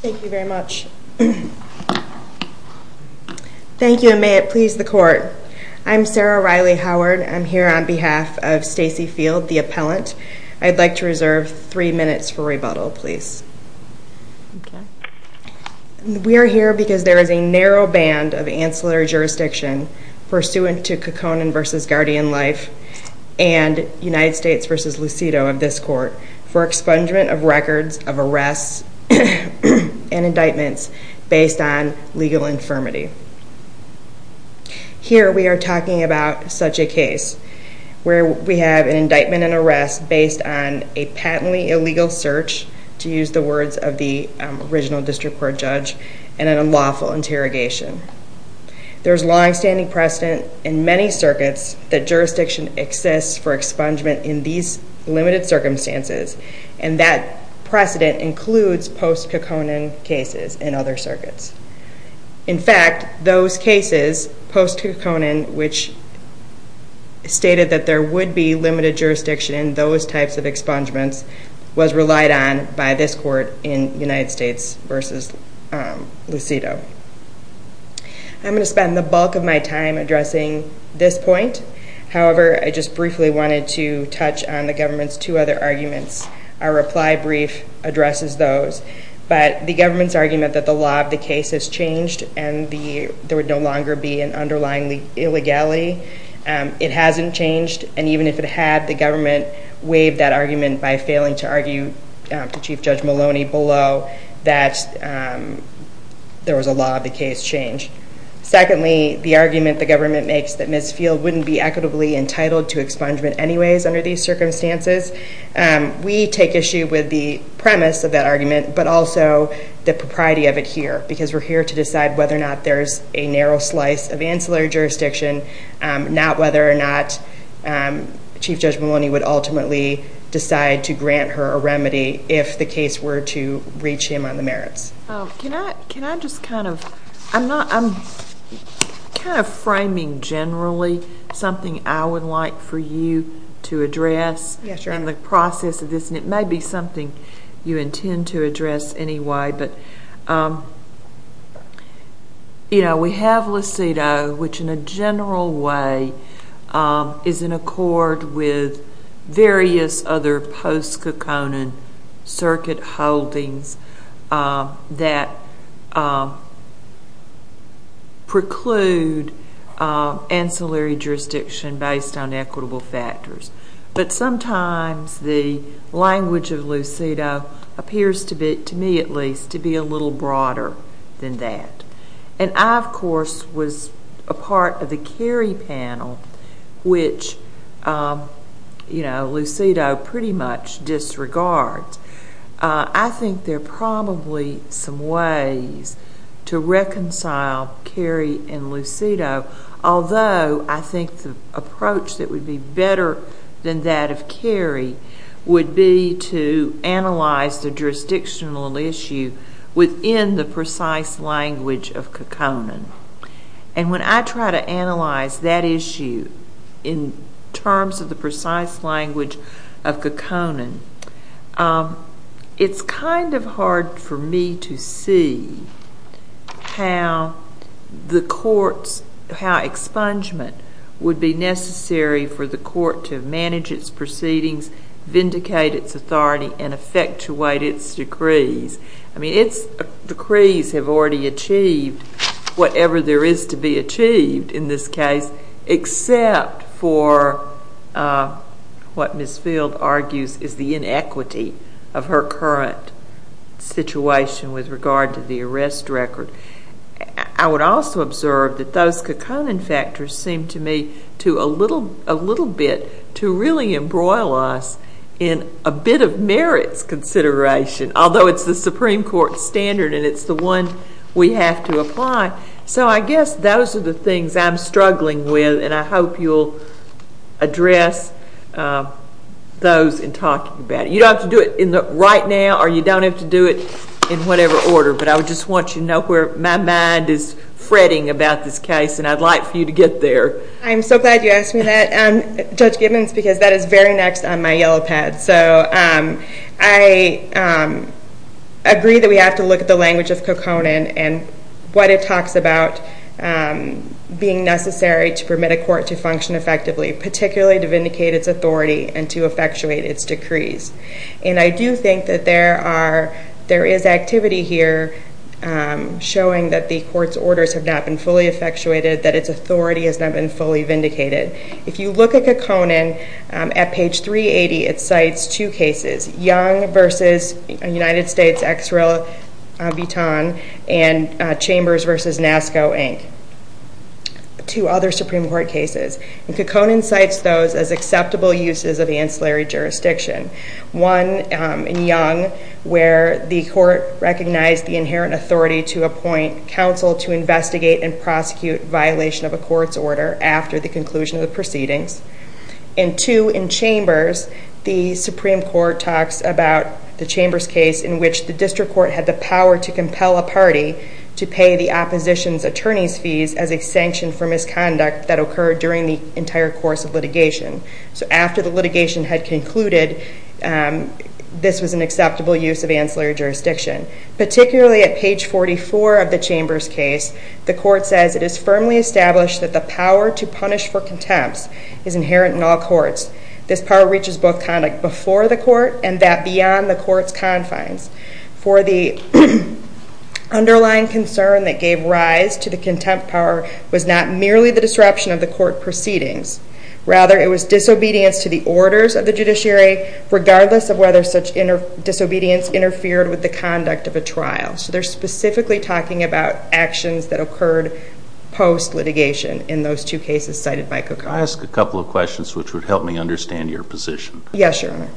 Thank you very much. Thank you, and may it please the court. I'm Sarah Riley Howard. I'm here on behalf of Stacey Field, the appellant. I'd like to reserve three minutes for rebuttal, please. We are here because there is a narrow band of ancillary jurisdiction pursuant to Kekkonen v. Guardian Life and United States v. Lucido of this court for expungement of records of arrests and indictments based on legal infirmity. Here we are talking about such a case where we have an indictment and arrest based on a patently illegal search, to use the words of the original district court judge, and an unlawful interrogation. There is long-standing precedent in many circuits that jurisdiction exists for expungement in these limited circumstances, and that precedent includes post-Kekkonen cases in other circuits. In fact, those cases post-Kekkonen, which stated that there would be limited jurisdiction in those types of expungements, was relied on by this court in United States v. Lucido. I'm going to spend the bulk of my time addressing this point. However, I just briefly wanted to touch on the government's two other arguments. Our reply brief addresses those. But the government's argument that the law of the case has changed and there would no longer be an underlying illegality, it hasn't changed. And even if it had, the government waived that argument by failing to argue to Chief Judge Maloney below that there was a law of the case change. Secondly, the argument the government makes that Ms. Field wouldn't be equitably entitled to expungement anyways under these circumstances, we take issue with the premise of that argument, but also the propriety of it here. Because we're here to decide whether or not there's a narrow slice of ancillary jurisdiction, not whether or not Chief Judge Maloney would ultimately decide to grant her a remedy if the case were to reach him on the merits. Can I just kind of, I'm kind of framing generally something I would like for you to address in the process of this, and it may be something you intend to address anyway. But, you know, we have Lucido, which in a general way is in accord with various other post-Coconin circuit holdings that preclude ancillary jurisdiction based on equitable factors. But sometimes the language of Lucido appears, to me at least, to be a little broader than that. And I, of course, was a part of the Cary panel, which, you know, Lucido pretty much disregards. I think there are probably some ways to reconcile Cary and Lucido, although I think the approach that would be better than that of Cary would be to analyze the jurisdictional issue within the precise language of Coconin. And when I try to analyze that issue in terms of the precise language of Coconin, it's kind of hard for me to see how the courts, how expungement would be necessary for the court to manage its proceedings, vindicate its authority, and effectuate its decrees. I mean, its decrees have already achieved whatever there is to be achieved in this case, except for what Ms. Field argues is the inequity of her current situation with regard to the arrest record. I would also observe that those Coconin factors seem to me to, a little bit, to really embroil us in a bit of merits consideration, although it's the Supreme Court standard and it's the one we have to apply. So I guess those are the things I'm struggling with, and I hope you'll address those in talking about it. You don't have to do it right now or you don't have to do it in whatever order, but I would just want you to know where my mind is fretting about this case, and I'd like for you to get there. I'm so glad you asked me that, Judge Gibbons, because that is very next on my yellow pad. So I agree that we have to look at the language of Coconin and what it talks about being necessary to permit a court to function effectively, particularly to vindicate its authority and to effectuate its decrees. And I do think that there is activity here showing that the court's orders have not been fully effectuated, that its authority has not been fully vindicated. If you look at Coconin, at page 380, it cites two cases, Young v. United States, ex rel. Vuitton, and Chambers v. NASCO, Inc., two other Supreme Court cases. And Coconin cites those as acceptable uses of ancillary jurisdiction. One, in Young, where the court recognized the inherent authority to appoint counsel to investigate and prosecute violation of a court's order after the conclusion of the proceedings. And two, in Chambers, the Supreme Court talks about the Chambers case in which the district court had the power to compel a party to pay the opposition's attorney's fees as a sanction for misconduct that occurred during the entire course of litigation. So after the litigation had concluded, this was an acceptable use of ancillary jurisdiction. Particularly at page 44 of the Chambers case, the court says, It is firmly established that the power to punish for contempt is inherent in all courts. This power reaches both conduct before the court and that beyond the court's confines. For the underlying concern that gave rise to the contempt power was not merely the disruption of the court proceedings. Rather, it was disobedience to the orders of the judiciary, regardless of whether such disobedience interfered with the conduct of a trial. So they're specifically talking about actions that occurred post-litigation in those two cases cited by Coconin. I ask a couple of questions which would help me understand your position. Yes, Your Honor.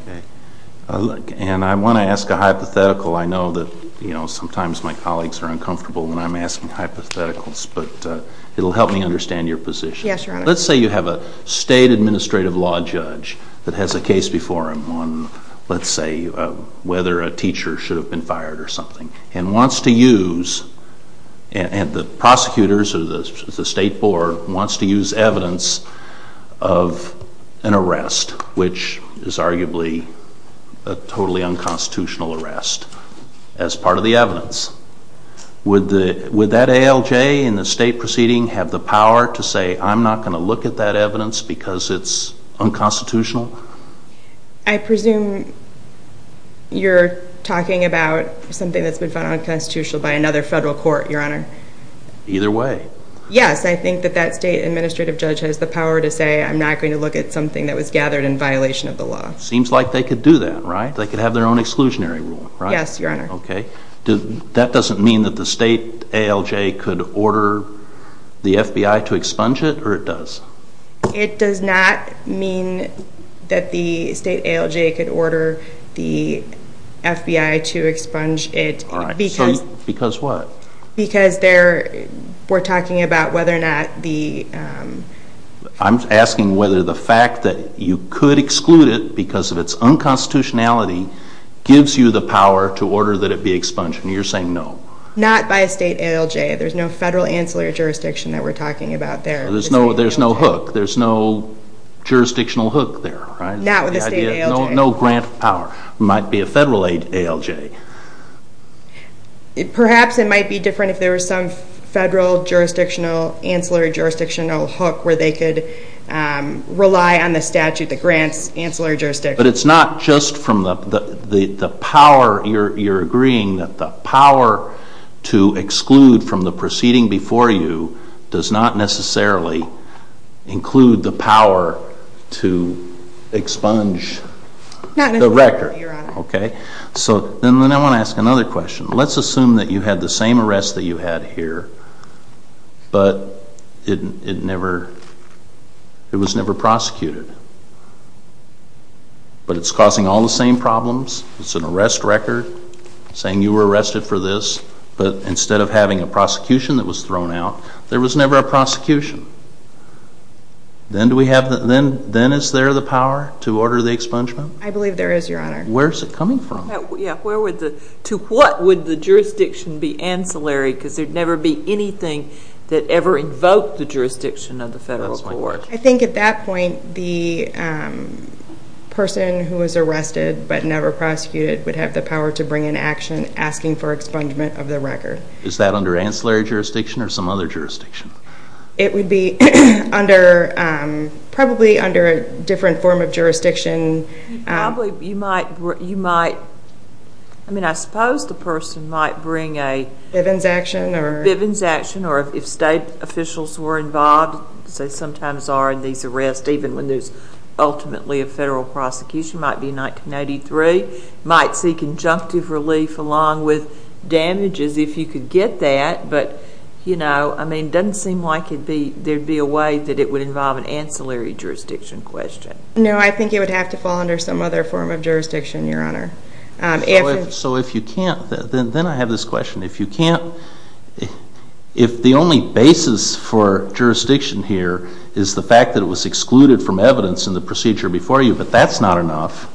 And I want to ask a hypothetical. I know that sometimes my colleagues are uncomfortable when I'm asking hypotheticals, but it'll help me understand your position. Yes, Your Honor. Let's say you have a state administrative law judge that has a case before him on, let's say, whether a teacher should have been fired or something, and wants to use, and the prosecutors or the state board wants to use evidence of an arrest, which is arguably a totally unconstitutional arrest, as part of the evidence. Would that ALJ in the state proceeding have the power to say, I'm not going to look at that evidence because it's unconstitutional? I presume you're talking about something that's been found unconstitutional by another federal court, Your Honor. Either way. Yes, I think that that state administrative judge has the power to say, I'm not going to look at something that was gathered in violation of the law. Seems like they could do that, right? Yes, Your Honor. Okay. That doesn't mean that the state ALJ could order the FBI to expunge it, or it does? It does not mean that the state ALJ could order the FBI to expunge it. All right. Because... Because what? Because we're talking about whether or not the... I'm asking whether the fact that you could exclude it because of its unconstitutionality gives you the power to order that it be expunged, and you're saying no. Not by a state ALJ. There's no federal ancillary jurisdiction that we're talking about there. There's no hook. There's no jurisdictional hook there, right? Not with a state ALJ. No grant power. It might be a federal ALJ. Perhaps it might be different if there was some federal jurisdictional, ancillary jurisdictional hook where they could rely on the statute that grants ancillary jurisdiction. But it's not just from the power. You're agreeing that the power to exclude from the proceeding before you does not necessarily include the power to expunge the record. Not necessarily, Your Honor. Okay. Then I want to ask another question. Let's assume that you had the same arrest that you had here, but it was never prosecuted. But it's causing all the same problems. It's an arrest record saying you were arrested for this, but instead of having a prosecution that was thrown out, there was never a prosecution. Then is there the power to order the expungement? I believe there is, Your Honor. Where is it coming from? To what would the jurisdiction be ancillary? Because there would never be anything that ever invoked the jurisdiction of the federal court. I think at that point the person who was arrested but never prosecuted would have the power to bring an action asking for expungement of the record. Is that under ancillary jurisdiction or some other jurisdiction? It would be probably under a different form of jurisdiction. I suppose the person might bring a Bivens action or if state officials were involved, as they sometimes are in these arrests, even when there's ultimately a federal prosecution, it might be 1983, might seek injunctive relief along with damages if you could get that. But it doesn't seem like there would be a way that it would involve an ancillary jurisdiction question. No, I think it would have to fall under some other form of jurisdiction, Your Honor. So if you can't, then I have this question, if you can't, if the only basis for jurisdiction here is the fact that it was excluded from evidence in the procedure before you, but that's not enough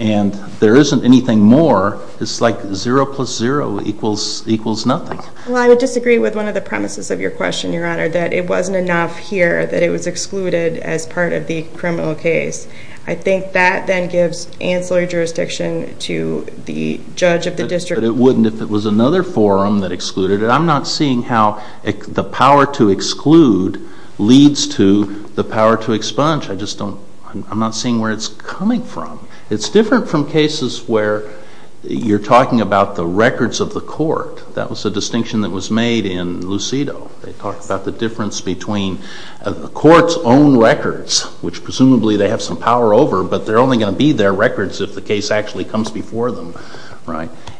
and there isn't anything more, it's like zero plus zero equals nothing. Well, I would disagree with one of the premises of your question, Your Honor, that it wasn't enough here, that it was excluded as part of the criminal case. I think that then gives ancillary jurisdiction to the judge of the district. But it wouldn't if it was another forum that excluded it. I'm not seeing how the power to exclude leads to the power to expunge. I'm not seeing where it's coming from. It's different from cases where you're talking about the records of the court. That was a distinction that was made in Lucido. They talked about the difference between the court's own records, which presumably they have some power over, but they're only going to be their records if the case actually comes before them,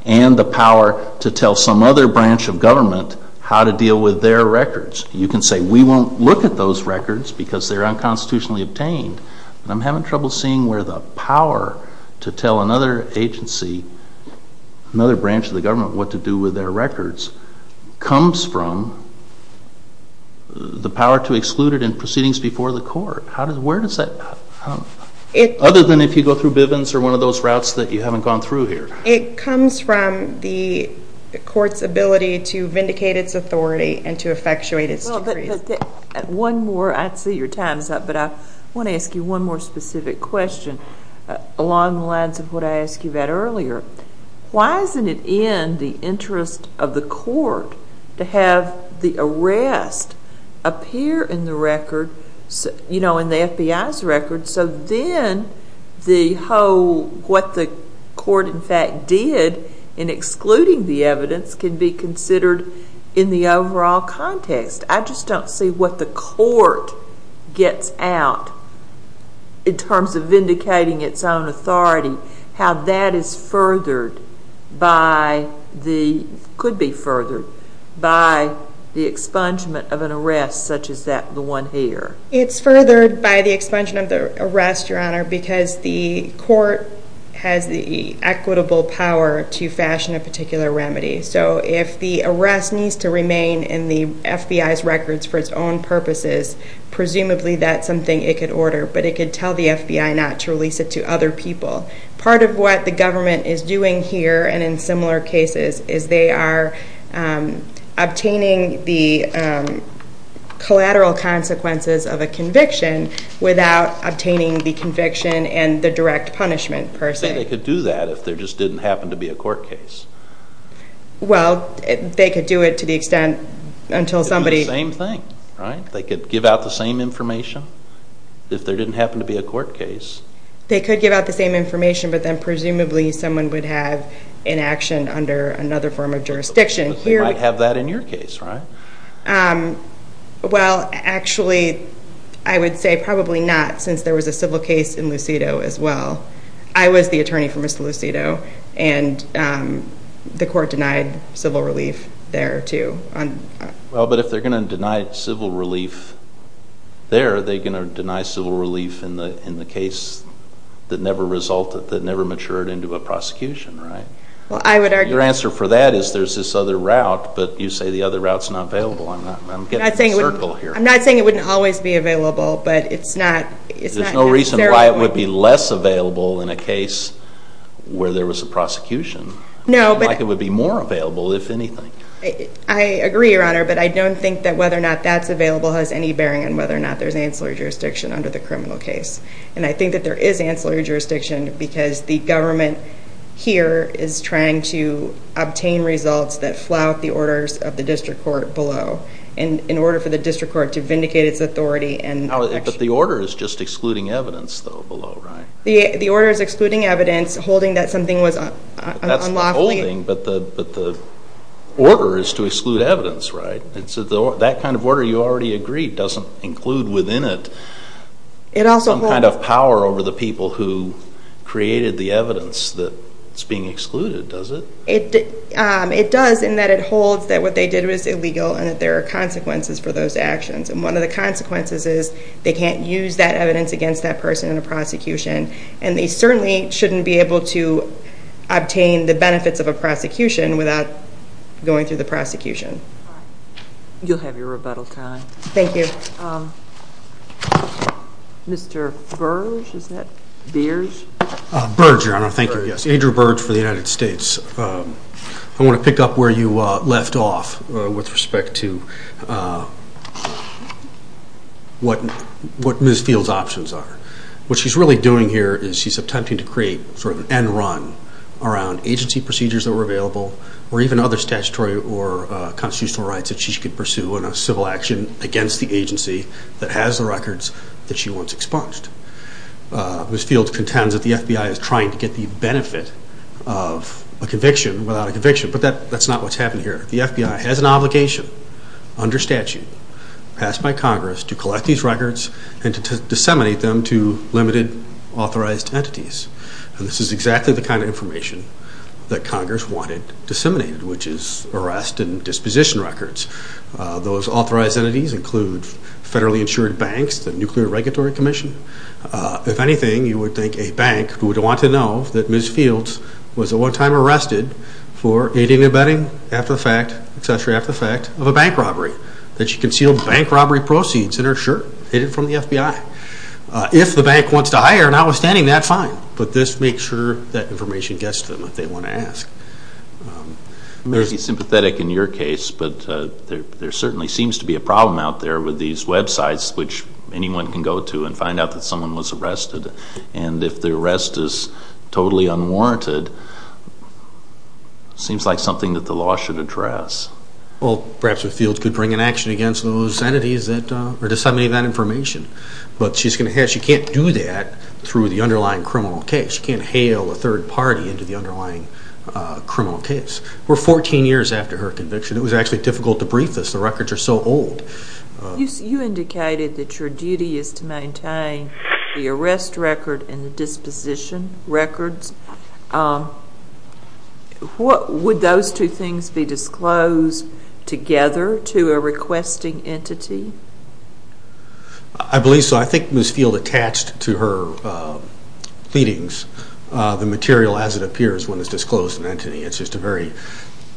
and the power to tell some other branch of government how to deal with their records. You can say we won't look at those records because they're unconstitutionally obtained. I'm having trouble seeing where the power to tell another agency, another branch of the government what to do with their records, comes from the power to exclude it in proceedings before the court. Where does that come from, other than if you go through Bivens or one of those routes that you haven't gone through here? It comes from the court's ability to vindicate its authority and to effectuate its decree. One more. I see your time is up, but I want to ask you one more specific question along the lines of what I asked you about earlier. Why isn't it in the interest of the court to have the arrest appear in the FBI's records so then what the court in fact did in excluding the evidence can be considered in the overall context? I just don't see what the court gets out in terms of vindicating its own authority, how that could be furthered by the expungement of an arrest such as the one here. It's furthered by the expungement of the arrest, Your Honor, because the court has the equitable power to fashion a particular remedy. So if the arrest needs to remain in the FBI's records for its own purposes, presumably that's something it could order, but it could tell the FBI not to release it to other people. Part of what the government is doing here and in similar cases is they are obtaining the collateral consequences of a conviction without obtaining the conviction and the direct punishment per se. But they could do that if there just didn't happen to be a court case. Well, they could do it to the extent until somebody... It would be the same thing, right? They could give out the same information if there didn't happen to be a court case. They could give out the same information, but then presumably someone would have inaction under another form of jurisdiction. They might have that in your case, right? Well, actually I would say probably not since there was a civil case in Lucido as well. I was the attorney for Mr. Lucido, and the court denied civil relief there too. Well, but if they're going to deny civil relief there, they're going to deny civil relief in the case that never resulted, that never matured into a prosecution, right? Well, I would argue... Your answer for that is there's this other route, but you say the other route's not available. I'm getting in a circle here. I'm not saying it wouldn't always be available, but it's not... There's no reason why it would be less available in a case where there was a prosecution. No, but... It would be more available, if anything. I agree, Your Honor, but I don't think that whether or not that's available has any bearing on whether or not there's ancillary jurisdiction under the criminal case. And I think that there is ancillary jurisdiction because the government here is trying to obtain results that flout the orders of the district court below in order for the district court to vindicate its authority and... But the order is just excluding evidence, though, below, right? The order is excluding evidence, holding that something was unlawfully... It's not holding, but the order is to exclude evidence, right? That kind of order, you already agreed, doesn't include within it... It also holds... ...some kind of power over the people who created the evidence that's being excluded, does it? It does in that it holds that what they did was illegal and that there are consequences for those actions. And one of the consequences is they can't use that evidence against that person in a prosecution, and they certainly shouldn't be able to obtain the benefits of a prosecution without going through the prosecution. All right. You'll have your rebuttal time. Thank you. Mr. Burge? Is that Burge? Burge, Your Honor. Thank you, yes. Burge. Andrew Burge for the United States. I want to pick up where you left off with respect to what Ms. Field's options are. What she's really doing here is she's attempting to create sort of an end run around agency procedures that were available or even other statutory or constitutional rights that she could pursue in a civil action against the agency that has the records that she wants expunged. Ms. Field contends that the FBI is trying to get the benefit of a conviction without a conviction, but that's not what's happening here. The FBI has an obligation under statute passed by Congress to collect these records and to disseminate them to limited authorized entities, and this is exactly the kind of information that Congress wanted disseminated, which is arrest and disposition records. Those authorized entities include federally insured banks, the Nuclear Regulatory Commission. If anything, you would think a bank would want to know that Ms. Field was at one time arrested for aiding and abetting after the fact of a bank robbery, that she concealed bank robbery proceeds in her shirt, hid it from the FBI. If the bank wants to hire her, notwithstanding that, fine, but this makes sure that information gets to them if they want to ask. Maybe sympathetic in your case, but there certainly seems to be a problem out there with these websites which anyone can go to and find out that someone was arrested, and if the arrest is totally unwarranted, it seems like something that the law should address. Perhaps Ms. Field could bring an action against those entities that are disseminating that information, but she can't do that through the underlying criminal case. She can't hail a third party into the underlying criminal case. We're 14 years after her conviction. It was actually difficult to brief us. The records are so old. You indicated that your duty is to maintain the arrest record and the disposition records. Would those two things be disclosed together to a requesting entity? I believe so. I think Ms. Field attached to her pleadings the material as it appears when it's disclosed to an entity. It's just a very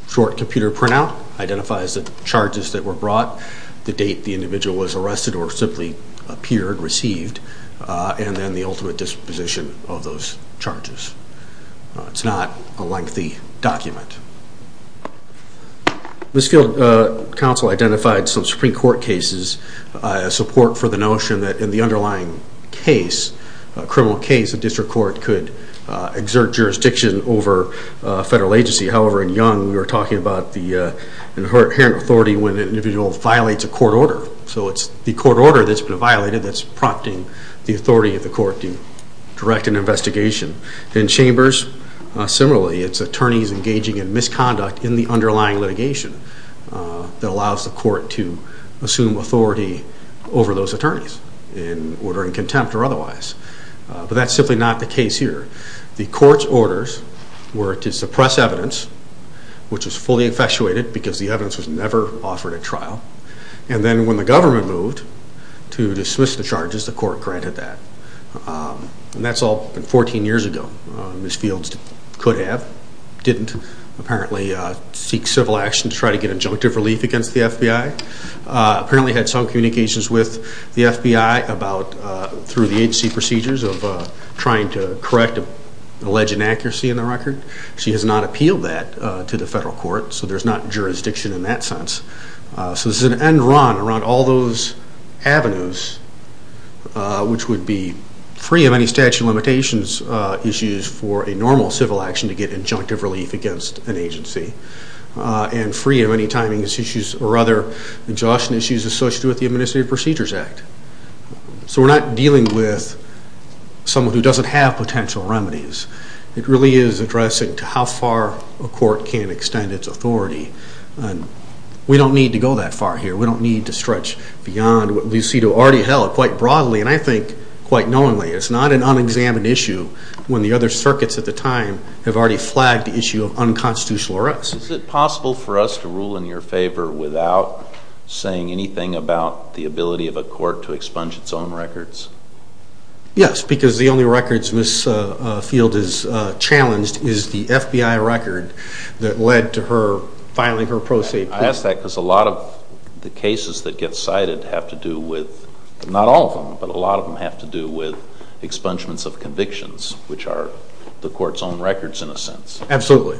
short computer printout, identifies the charges that were brought, the date the individual was arrested or simply appeared, received, and then the ultimate disposition of those charges. It's not a lengthy document. Ms. Field's counsel identified some Supreme Court cases as support for the notion that in the underlying case, a criminal case, a district court could exert jurisdiction over a federal agency. However, in Young, we were talking about the inherent authority when an individual violates a court order. So it's the court order that's been violated that's prompting the authority of the court to direct an investigation. In Chambers, similarly, it's attorneys engaging in misconduct in the underlying litigation that allows the court to assume authority over those attorneys in order in contempt or otherwise. But that's simply not the case here. The court's orders were to suppress evidence, which was fully infatuated because the evidence was never offered at trial. And then when the government moved to dismiss the charges, the court granted that. And that's all been 14 years ago. Ms. Field could have, didn't apparently seek civil action to try to get injunctive relief against the FBI. Apparently had some communications with the FBI through the agency procedures of trying to correct alleged inaccuracy in the record. She has not appealed that to the federal court, so there's not jurisdiction in that sense. So this is an end run around all those avenues, which would be free of any statute of limitations issues for a normal civil action to get injunctive relief against an agency. And free of any timing issues or other injunction issues associated with the Administrative Procedures Act. So we're not dealing with someone who doesn't have potential remedies. It really is addressing to how far a court can extend its authority. We don't need to go that far here. We don't need to stretch beyond what Lucido already held quite broadly, and I think quite knowingly. It's not an unexamined issue when the other circuits at the time have already flagged the issue of unconstitutional arrest. Is it possible for us to rule in your favor without saying anything about the ability of a court to expunge its own records? Yes, because the only records this field has challenged is the FBI record that led to her filing her pro se plea. I ask that because a lot of the cases that get cited have to do with, not all of them, but a lot of them have to do with expungements of convictions, which are the court's own records in a sense. Absolutely.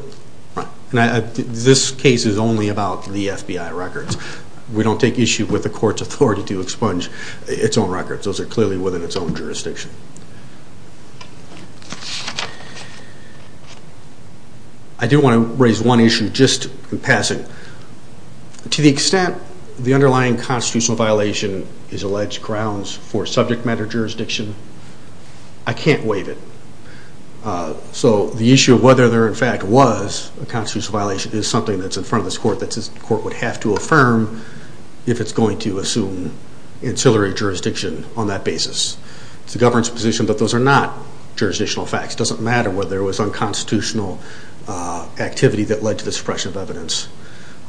This case is only about the FBI records. We don't take issue with the court's authority to expunge its own records. Those are clearly within its own jurisdiction. I do want to raise one issue just in passing. To the extent the underlying constitutional violation is alleged grounds for subject matter jurisdiction, I can't waive it. So the issue of whether there in fact was a constitutional violation is something that's in front of this court that this court would have to affirm if it's going to assume ancillary jurisdiction on that basis. It's the government's position, but those are not jurisdictional facts. It doesn't matter whether it was unconstitutional activity that led to the suppression of evidence.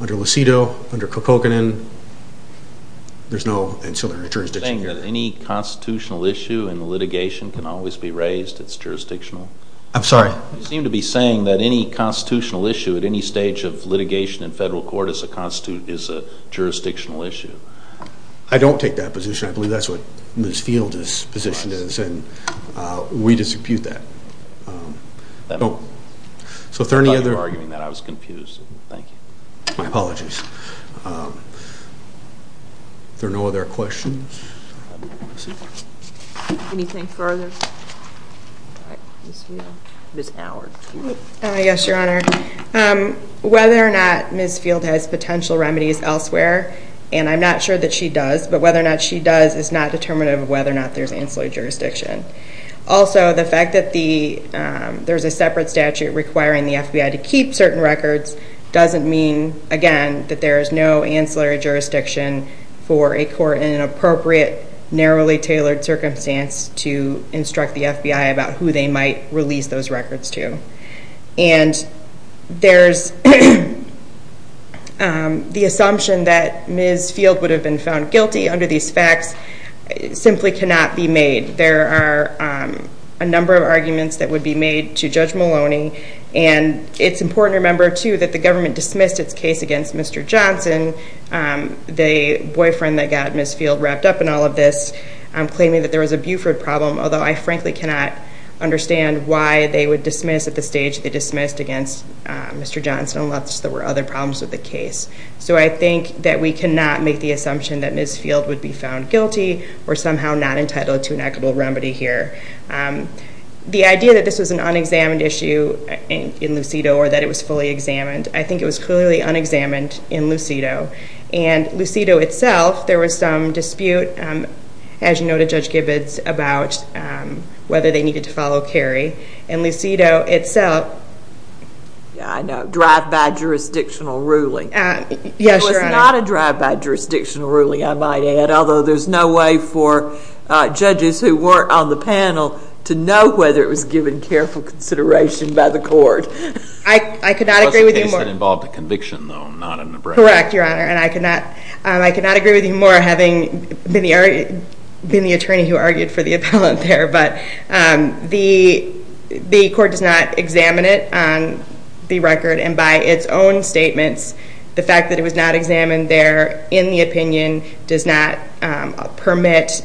Under Lucido, under Kokkonen, there's no ancillary jurisdiction here. Are you saying that any constitutional issue in litigation can always be raised? It's jurisdictional? I'm sorry? You seem to be saying that any constitutional issue at any stage of litigation in federal court is a jurisdictional issue. I don't take that position. I believe that's what Ms. Field's position is, and we dispute that. So if there are any other— I thought you were arguing that. I was confused. Thank you. My apologies. Are there no other questions? Anything further? Ms. Field? Ms. Howard. Yes, Your Honor. Whether or not Ms. Field has potential remedies elsewhere, and I'm not sure that she does, but whether or not she does is not determinative of whether or not there's ancillary jurisdiction. Also, the fact that there's a separate statute requiring the FBI to keep certain records doesn't mean, again, that there is no ancillary jurisdiction for a court in an appropriate, narrowly tailored circumstance to instruct the FBI about who they might release those records to. And there's the assumption that Ms. Field would have been found guilty under these facts simply cannot be made. There are a number of arguments that would be made to Judge Maloney, and it's important to remember, too, that the government dismissed its case against Mr. Johnson, the boyfriend that got Ms. Field wrapped up in all of this, claiming that there was a Buford problem, although I frankly cannot understand why they would dismiss at the stage they dismissed against Mr. Johnson unless there were other problems with the case. So I think that we cannot make the assumption that Ms. Field would be found guilty or somehow not entitled to an equitable remedy here. The idea that this was an unexamined issue in Lucido or that it was fully examined, I think it was clearly unexamined in Lucido. And Lucido itself, there was some dispute, as you know, to Judge Gibbons about whether they needed to follow Kerry. And Lucido itself... I know, drive-by jurisdictional ruling. Yes, Your Honor. It was not a drive-by jurisdictional ruling, I might add, although there's no way for judges who were on the panel to know whether it was given careful consideration by the court. I could not agree with you more... It was a case that involved a conviction, though, not an abrasion. Correct, Your Honor. And I could not agree with you more, having been the attorney who argued for the appellant there. But the court does not examine it on the record. And by its own statements, the fact that it was not examined there in the opinion does not permit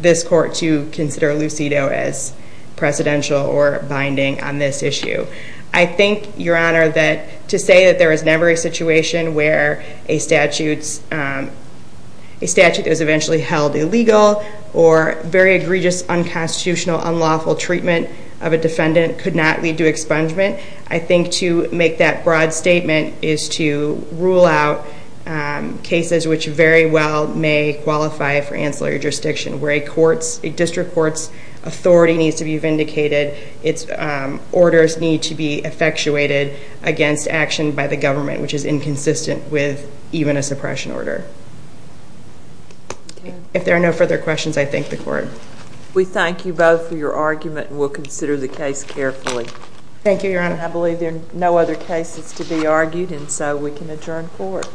this court to consider Lucido as precedential or binding on this issue. I think, Your Honor, that to say that there is never a situation where a statute is eventually held illegal or very egregious, unconstitutional, unlawful treatment of a defendant could not lead to expungement, I think to make that broad statement is to rule out cases which very well may qualify for ancillary jurisdiction where a district court's authority needs to be vindicated, its orders need to be effectuated against action by the government, which is inconsistent with even a suppression order. If there are no further questions, I thank the court. We thank you both for your argument, and we'll consider the case carefully. Thank you, Your Honor. I believe there are no other cases to be argued, and so we can adjourn court.